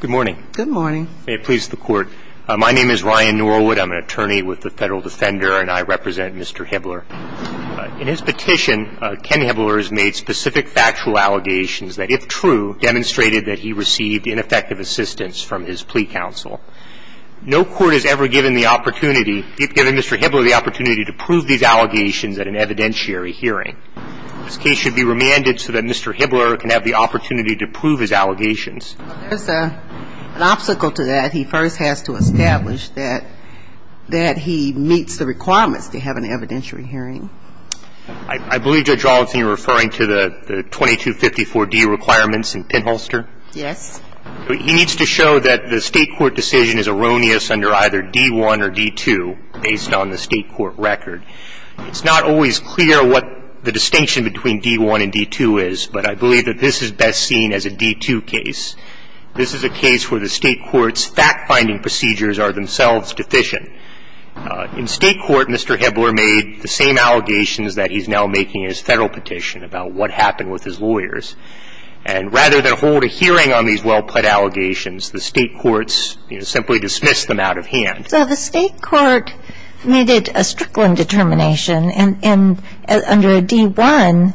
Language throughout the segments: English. Good morning. Good morning. May it please the court. My name is Ryan Norwood. I'm an attorney with the Federal Defender and I represent Mr. Hibbler In his petition, Ken Hibbler has made specific factual allegations that if true Demonstrated that he received ineffective assistance from his plea counsel No court has ever given the opportunity, if given Mr. Hibbler the opportunity to prove these allegations at an evidentiary hearing This case should be remanded so that Mr. Hibbler can have the opportunity to prove his allegations There's a an obstacle to that. He first has to establish that That he meets the requirements to have an evidentiary hearing. I Believe Judge Robinson you're referring to the 2254 D requirements in pinholster. Yes He needs to show that the state court decision is erroneous under either d1 or d2 based on the state court record It's not always clear what the distinction between d1 and d2 is but I believe that this is best seen as a d2 case This is a case where the state court's fact-finding procedures are themselves deficient In state court, Mr. Hibbler made the same allegations that he's now making his federal petition about what happened with his lawyers and Rather than hold a hearing on these well-put allegations the state courts simply dismiss them out of hand. So the state court Made it a Strickland determination and and under a d1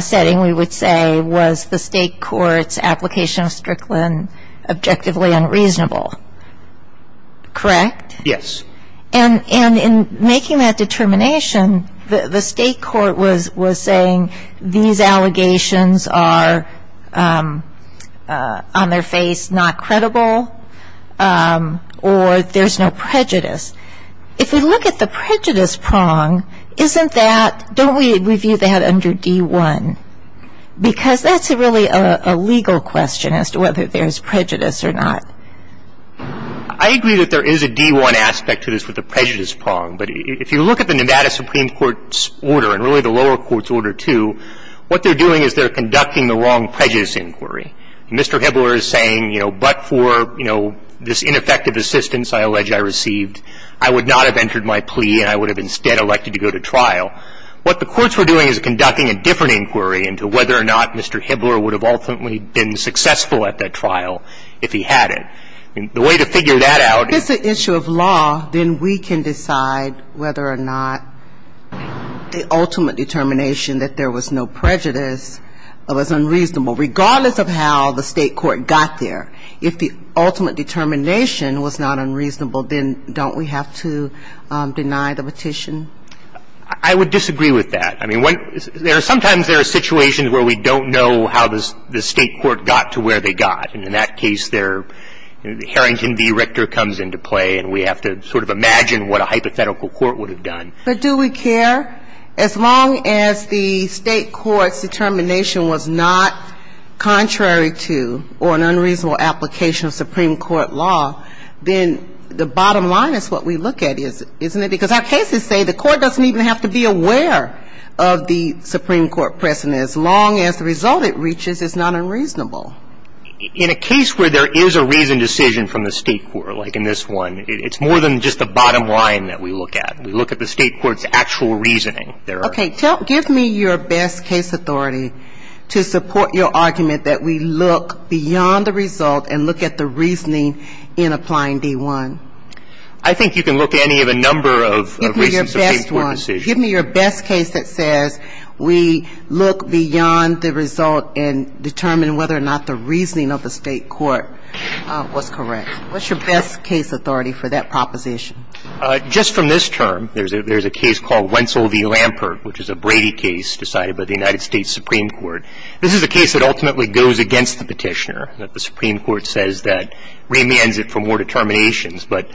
Setting we would say was the state court's application of Strickland objectively unreasonable Correct. Yes, and and in making that determination the state court was was saying these allegations are On their face not credible Or there's no prejudice if we look at the prejudice prong Isn't that don't we review that under d1? Because that's a really a legal question as to whether there's prejudice or not. I Agree that there is a d1 aspect to this with the prejudice prong But if you look at the Nevada Supreme Court's order and really the lower courts order to What they're doing is they're conducting the wrong prejudice inquiry. Mr. Hibbler is saying, you know, but for you know, this ineffective assistance I allege I received I would not have entered my plea and I would have instead elected to go to trial What the courts were doing is conducting a different inquiry into whether or not. Mr Hibbler would have ultimately been successful at that trial if he had it and the way to figure that out It's an issue of law then we can decide whether or not the ultimate determination that there was no prejudice of Unreasonable regardless of how the state court got there if the ultimate determination was not unreasonable Then don't we have to? deny the petition I Would disagree with that I mean what there are sometimes there are situations where we don't know how this the state court got to where they got and in that case their Harrington v Richter comes into play and we have to sort of imagine what a hypothetical court would have done But do we care as long as the state courts determination was not Contrary to or an unreasonable application of Supreme Court law Then the bottom line is what we look at is isn't it because our cases say the court doesn't even have to be aware Of the Supreme Court precedent as long as the result it reaches is not unreasonable In a case where there is a reasoned decision from the state for like in this one It's more than just the bottom line that we look at we look at the state courts actual reasoning They're okay Don't give me your best case authority to support your argument that we look Beyond the result and look at the reasoning in applying d1 I think you can look at any of a number of reasons Give me your best case that says we look beyond the result and determine whether or not the reasoning of the state court Was correct, what's your best case authority for that proposition just from this term? There's a there's a case called Wentzell v Lampert, which is a Brady case decided by the United States Supreme Court This is a case that ultimately goes against the petitioner that the Supreme Court says that remains it for more determinations But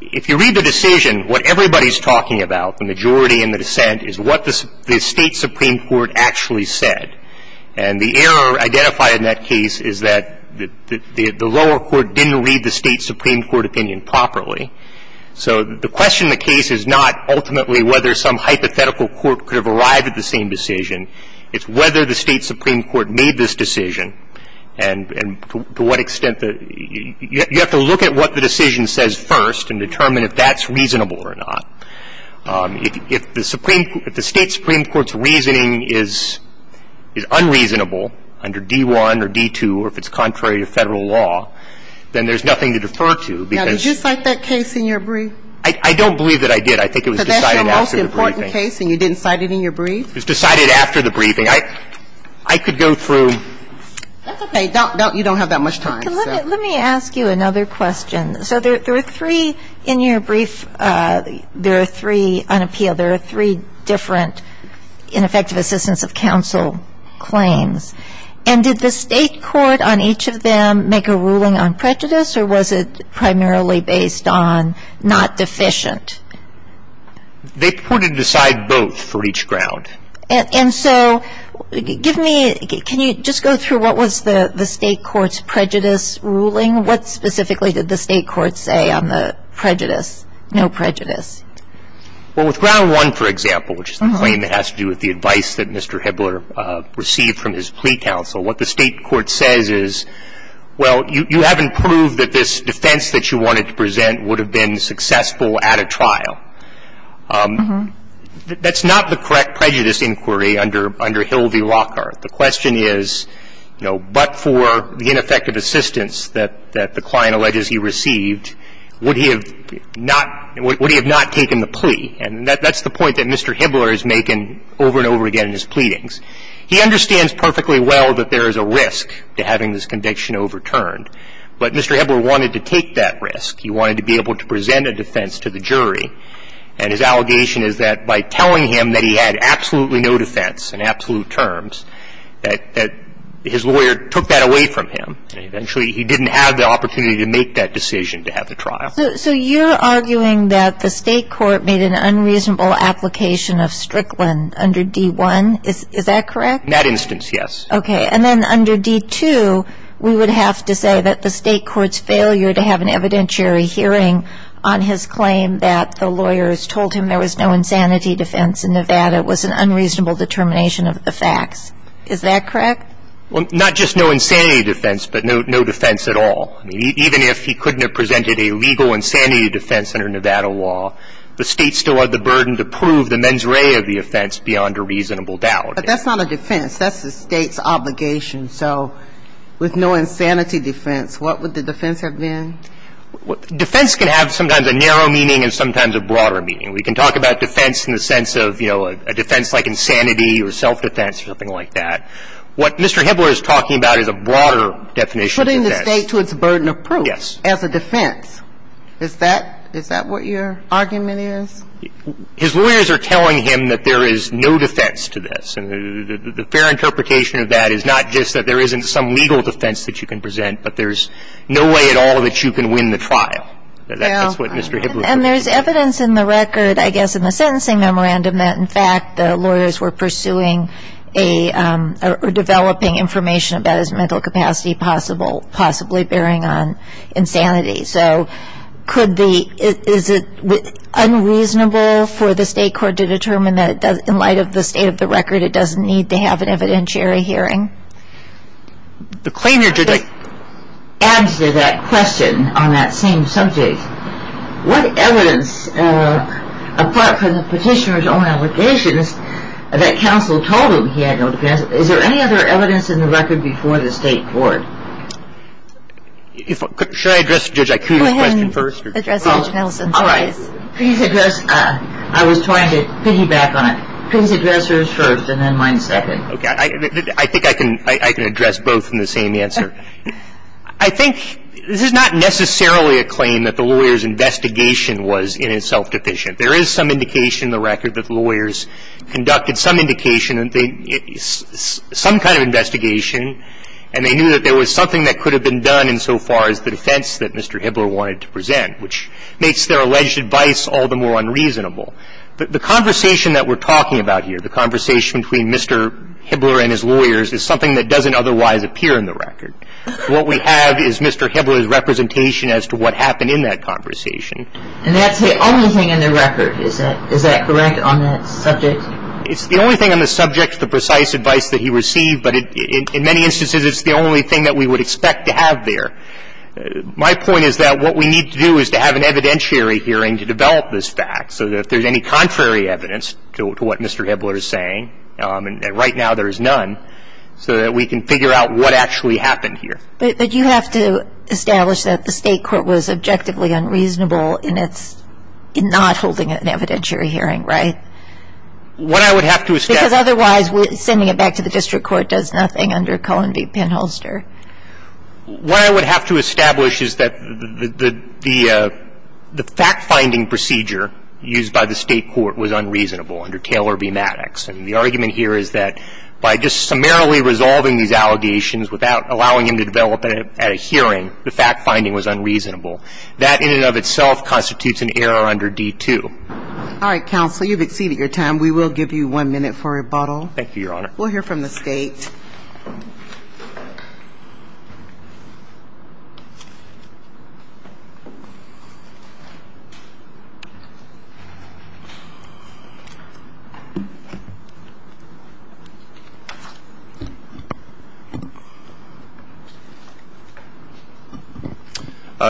if you read the decision what everybody's talking about the majority in the dissent is what this the state Supreme Court actually said and The error identified in that case is that the the lower court didn't read the state Supreme Court opinion properly So the question the case is not ultimately whether some hypothetical court could have arrived at the same decision it's whether the state Supreme Court made this decision and To what extent that you have to look at what the decision says first and determine if that's reasonable or not If the Supreme if the state Supreme Court's reasoning is Is unreasonable under d1 or d2 or if it's contrary to federal law Then there's nothing to defer to because just like that case in your brief. I don't believe that I did I think it was decided after the case and you didn't cite it in your brief. It's decided after the briefing. I I could go through You don't have that much time let me ask you another question, so there are three in your brief There are three on appeal there are three different ineffective assistance of counsel Claims and did the state court on each of them make a ruling on prejudice or was it primarily based on? not deficient They put it aside both for each ground and so Give me can you just go through what was the the state courts prejudice ruling? What specifically did the state court say on the prejudice no prejudice? Well with ground one for example, which is the claim that has to do with the advice that mr. Hebler received from his plea counsel what the state court says is Well, you haven't proved that this defense that you wanted to present would have been successful at a trial That's not the correct prejudice inquiry under under Hildy Lockhart the question is But for the ineffective assistance that that the client alleges he received would he have not Would he have not taken the plea and that that's the point that mr. Hebler is making over and over again in his pleadings He understands perfectly well that there is a risk to having this conviction overturned, but mr. Hebler wanted to take that risk He wanted to be able to present a defense to the jury and his allegation is that by telling him that he had Absolutely, no defense in absolute terms That that his lawyer took that away from him Eventually, he didn't have the opportunity to make that decision to have the trial So you're arguing that the state court made an unreasonable application of Strickland under d1 Is that correct in that instance? Yes, okay And then under d2 We would have to say that the state courts failure to have an evidentiary Hearing on his claim that the lawyers told him there was no insanity defense in Nevada It was an unreasonable determination of the facts. Is that correct? Well, not just no insanity defense, but no defense at all Even if he couldn't have presented a legal insanity defense under Nevada law The state still had the burden to prove the mens rea of the offense beyond a reasonable doubt, but that's not a defense That's the state's obligation. So with no insanity defense, what would the defense have been? Defense can have sometimes a narrow meaning and sometimes a broader meaning We can talk about defense in the sense of, you know, a defense like insanity or self-defense or something like that What Mr. Hibbler is talking about is a broader definition Putting the state to its burden of proof as a defense. Is that is that what your argument is? His lawyers are telling him that there is no defense to this and the fair interpretation of that is not just that there isn't Some legal defense that you can present, but there's no way at all that you can win the trial And there's evidence in the record, I guess in the sentencing memorandum that in fact the lawyers were pursuing a Developing information about his mental capacity possible possibly bearing on insanity. So could the is it Unreasonable for the state court to determine that in light of the state of the record. It doesn't need to have an evidentiary hearing the claim your Answer that question on that same subject What evidence? Apart from the petitioner's own allegations that counsel told him he had no defense Is there any other evidence in the record before the state court? If I should I address the judge I can question first All right, please address. I was trying to piggyback on it. Please address hers first and then mine second I think I can I can address both in the same answer. I Think this is not necessarily a claim that the lawyers investigation was in itself deficient There is some indication in the record that the lawyers conducted some indication and they Some kind of investigation and they knew that there was something that could have been done insofar as the defense that mr Hibbler wanted to present which makes their alleged advice all the more unreasonable But the conversation that we're talking about here the conversation between mr Hibbler and his lawyers is something that doesn't otherwise appear in the record. What we have is mr Hibbler's representation as to what happened in that conversation It's the only thing on the subject the precise advice that he received but in many instances It's the only thing that we would expect to have there My point is that what we need to do is to have an evidentiary hearing to develop this fact So that if there's any contrary evidence to what mr. Hibbler is saying and right now there is none so that we can figure out what actually happened here, but you have to Establish that the state court was objectively unreasonable in its in not holding it an evidentiary hearing, right? What I would have to is because otherwise we're sending it back to the district court does nothing under Cullen be pinholster what I would have to establish is that the the State court was unreasonable under Taylor be Maddox and the argument here is that by just summarily resolving these allegations without allowing him to develop At a hearing the fact-finding was unreasonable that in and of itself constitutes an error under d2 All right counsel, you've exceeded your time. We will give you one minute for rebuttal. Thank you, Your Honor. We'll hear from the state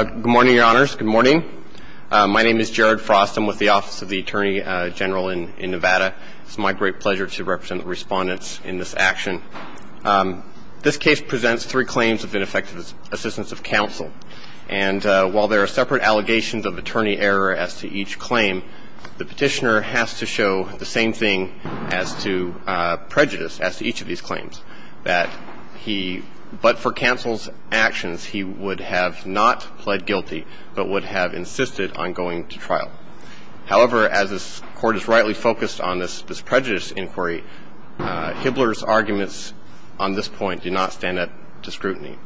Good morning, Your Honors. Good morning. My name is Jared Frost. I'm with the Office of the Attorney General in in Nevada It's my great pleasure to represent the respondents in this action This case presents three claims of ineffective assistance of counsel and while there are separate allegations of attorney error as to each claim The petitioner has to show the same thing as to prejudice as to each of these claims that he but for counsel's actions He would have not pled guilty, but would have insisted on going to trial However, as this court is rightly focused on this this prejudice inquiry Hibbler's arguments on this point do not stand up to scrutiny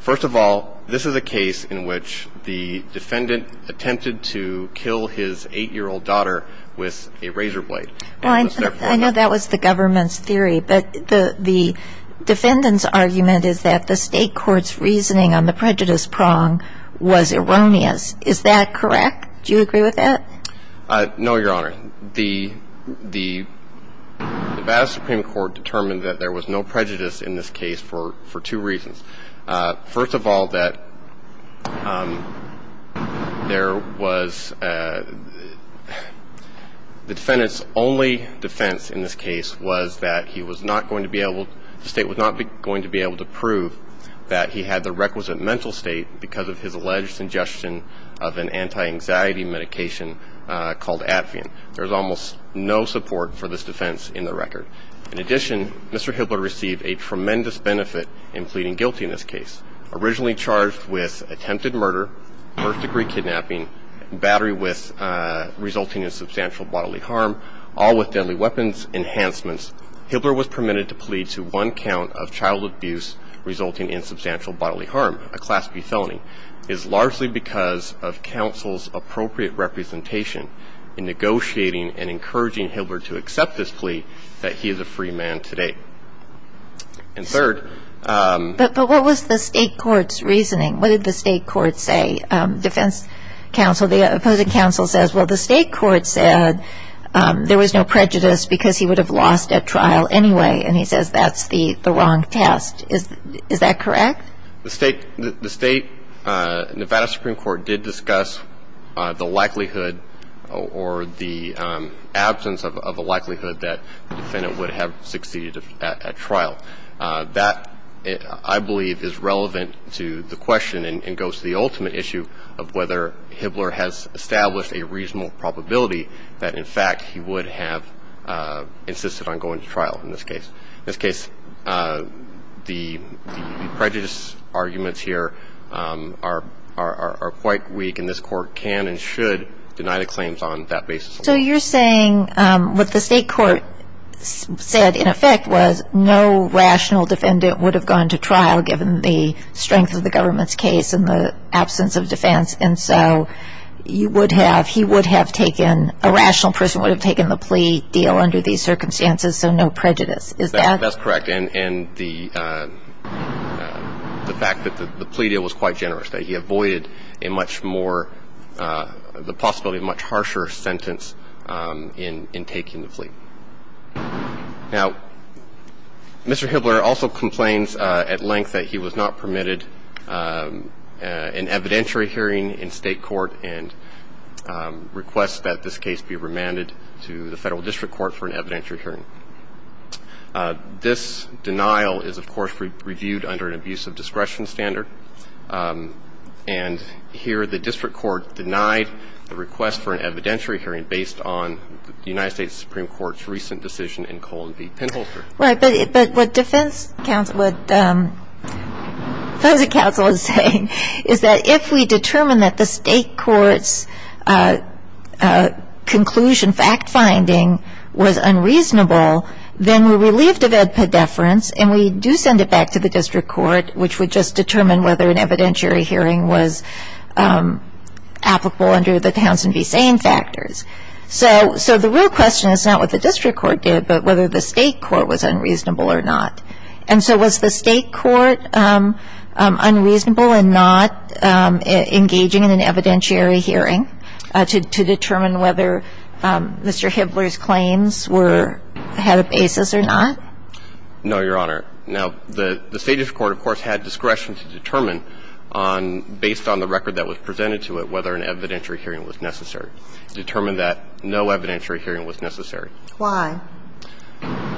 First of all, this is a case in which the defendant attempted to kill his eight-year-old daughter with a razor blade Well, I know that was the government's theory, but the the Defendant's argument is that the state courts reasoning on the prejudice prong was erroneous. Is that correct? Do you agree with that? No, Your Honor the the Prejudice in this case for for two reasons. First of all that There was The defendants only defense in this case was that he was not going to be able to state was not going to be able to Prove that he had the requisite mental state because of his alleged suggestion of an anti-anxiety medication Called at Fionn. There's almost no support for this defense in the record. In addition. Mr Hibbler received a tremendous benefit in pleading guilty in this case originally charged with attempted murder first-degree kidnapping battery with Resulting in substantial bodily harm all with deadly weapons enhancements Hibbler was permitted to plead to one count of child abuse Resulting in substantial bodily harm a class B. Felony is largely because of counsel's appropriate representation In negotiating and encouraging Hibbler to accept this plea that he is a free man today and third But what was the state courts reasoning? What did the state courts say? Defense counsel the opposing counsel says well the state court said There was no prejudice because he would have lost at trial anyway, and he says that's the the wrong test Is that correct the state the state? Nevada Supreme Court did discuss the likelihood or the Absence of a likelihood that the defendant would have succeeded at trial that I believe is relevant To the question and goes to the ultimate issue of whether Hibbler has established a reasonable probability that in fact he would have Insisted on going to trial in this case this case The prejudice arguments here Are are quite weak and this court can and should deny the claims on that basis, so you're saying what the state court? said in effect was no rational defendant would have gone to trial given the strength of the government's case in the absence of defense and so You would have he would have taken a rational person would have taken the plea deal under these circumstances So no prejudice is that that's correct and and the The fact that the plea deal was quite generous that he avoided a much more The possibility of much harsher sentence in in taking the fleet now Mr.. Hibbler also complains at length that he was not permitted an evidentiary hearing in state court and Requests that this case be remanded to the federal district court for an evidentiary hearing This denial is of course reviewed under an abuse of discretion standard and Here the district court denied the request for an evidentiary hearing based on the United States Supreme Court's recent decision in colon v Penholzer right, but what defense counsel would Those a counsel is saying is that if we determine that the state courts Conclusion fact-finding Was unreasonable then we're relieved of edpa deference, and we do send it back to the district court Which would just determine whether an evidentiary hearing was? Applicable under the Townsend v. Sane factors, so so the real question is not what the district court did But whether the state court was unreasonable or not and so was the state court Unreasonable and not Engaging in an evidentiary hearing to determine whether Mr.. Hibbler's claims were had a basis or not No, your honor now the the state of court of course had discretion to determine on Based on the record that was presented to it whether an evidentiary hearing was necessary determined that no evidentiary hearing was necessary why?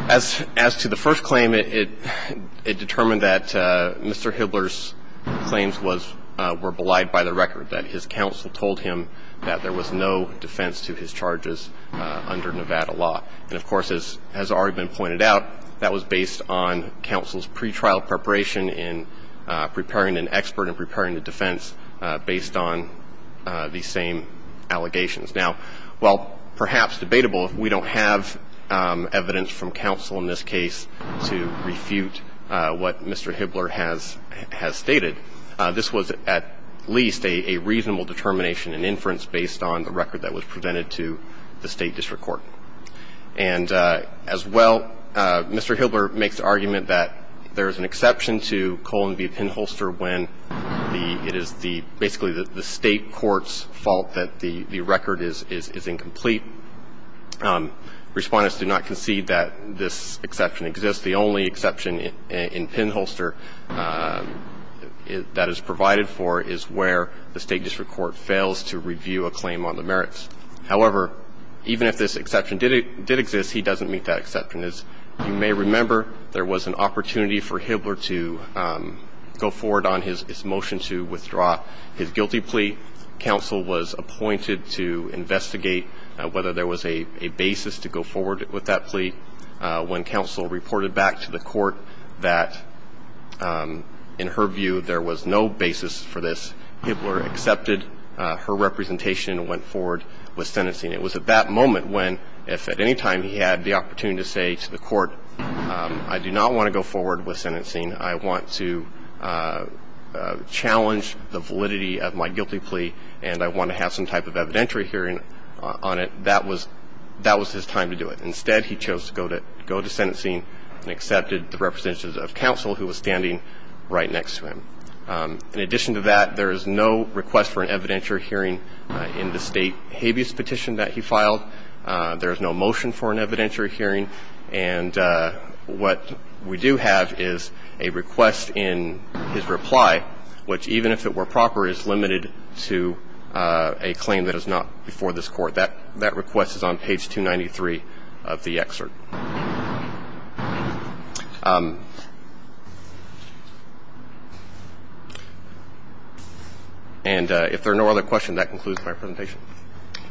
As as to the first claim it it determined that Mr.. Hibbler's Were belied by the record that his counsel told him that there was no defense to his charges Under Nevada law and of course as has already been pointed out that was based on counsel's pretrial preparation in Preparing an expert and preparing the defense based on the same Allegations now well perhaps debatable if we don't have Evidence from counsel in this case to refute what mr. Hibbler has has stated this was at least a reasonable determination and inference based on the record that was presented to the state district court and as well Mr.. Hibbler makes the argument that there is an exception to colon v pinholster when The it is the basically that the state courts fault that the the record is is is incomplete Respondents do not concede that this exception exists the only exception in pinholster Is that is provided for is where the state district court fails to review a claim on the merits however? Even if this exception did it did exist he doesn't meet that exception is you may remember there was an opportunity for Hibbler to Go forward on his motion to withdraw his guilty plea Counsel was appointed to investigate whether there was a basis to go forward with that plea when counsel reported back to the court that In her view there was no basis for this Hibbler accepted her representation and went forward with sentencing It was at that moment when if at any time he had the opportunity to say to the court I do not want to go forward with sentencing. I want to Challenge the validity of my guilty plea and I want to have some type of evidentiary hearing On it that was that was his time to do it instead He chose to go to go to sentencing and accepted the representations of counsel who was standing right next to him In addition to that there is no request for an evidentiary hearing in the state habeas petition that he filed there is no motion for an evidentiary hearing and what we do have is a request in his reply which even if it were proper is limited to A claim that is not before this court that that request is on page 293 of the excerpt And if there are no other questions that concludes my presentation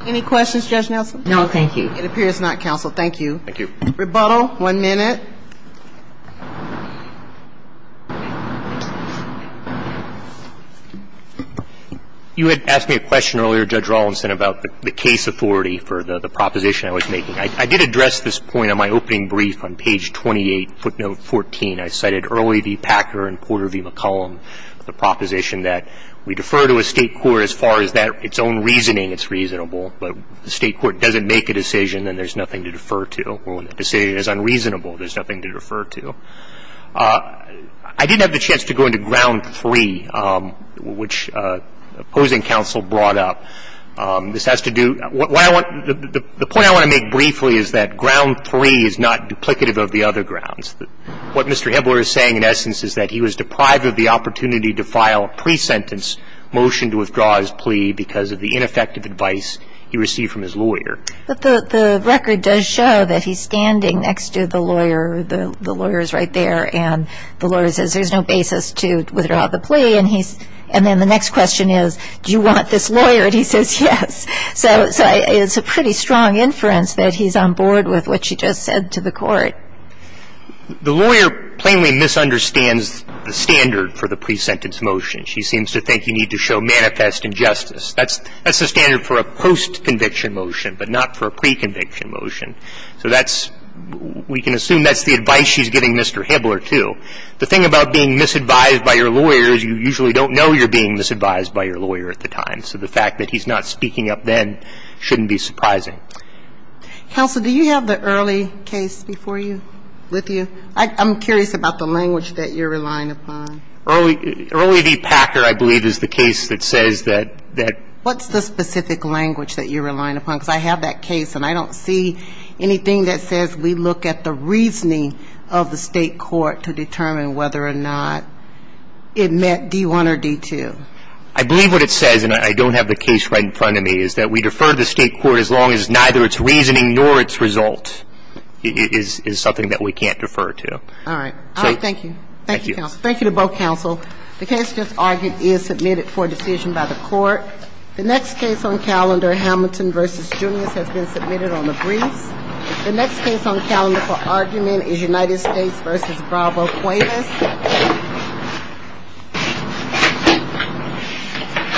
any questions judge Nelson, no, thank you. It appears not counsel. Thank you Thank you rebuttal one minute You Had asked me a question earlier judge Rawlinson about the case authority for the the proposition I was making I did address this point On my opening brief on page 28 footnote 14 I cited early the Packer and Porter v. McCollum The proposition that we defer to a state court as far as that its own reasoning It's reasonable, but the state court doesn't make a decision and there's nothing to defer to or when the decision is unreasonable There's nothing to refer to I didn't have the chance to go into ground three which opposing counsel brought up This has to do what I want the point I want to make briefly is that ground three is not duplicative of the other grounds that what mr. Himmler is saying in essence is that he was deprived of the opportunity to file a pre-sentence Motion to withdraw his plea because of the ineffective advice he received from his lawyer But the the record does show that he's standing next to the lawyer The lawyers right there and the lawyer says there's no basis to withdraw the plea and he's and then the next question is Do you want this lawyer and he says yes So it's a pretty strong inference that he's on board with what she just said to the court The lawyer plainly misunderstands the standard for the pre-sentence motion. She seems to think you need to show manifest injustice That's that's the standard for a post-conviction motion, but not for a pre-conviction motion. So that's We can assume that's the advice. She's giving. Mr. Himmler to the thing about being misadvised by your lawyers You usually don't know you're being misadvised by your lawyer at the time So the fact that he's not speaking up then shouldn't be surprising Counsel, do you have the early case before you with you? I'm curious about the language that you're relying upon Early the Packer I believe is the case that says that that what's the specific language that you're relying upon because I have that case and I don't see anything that says we look at the reasoning of the state court to determine whether or not It met d1 or d2 I Believe what it says and I don't have the case right in front of me is that we defer the state court as long as Neither its reasoning nor its result Is is something that we can't defer to all right. Thank you. Thank you. Thank you to both counsel The case just argued is submitted for decision by the court The next case on calendar Hamilton versus juniors has been submitted on the breeze The next case on calendar for argument is United States versus Bravo Quavis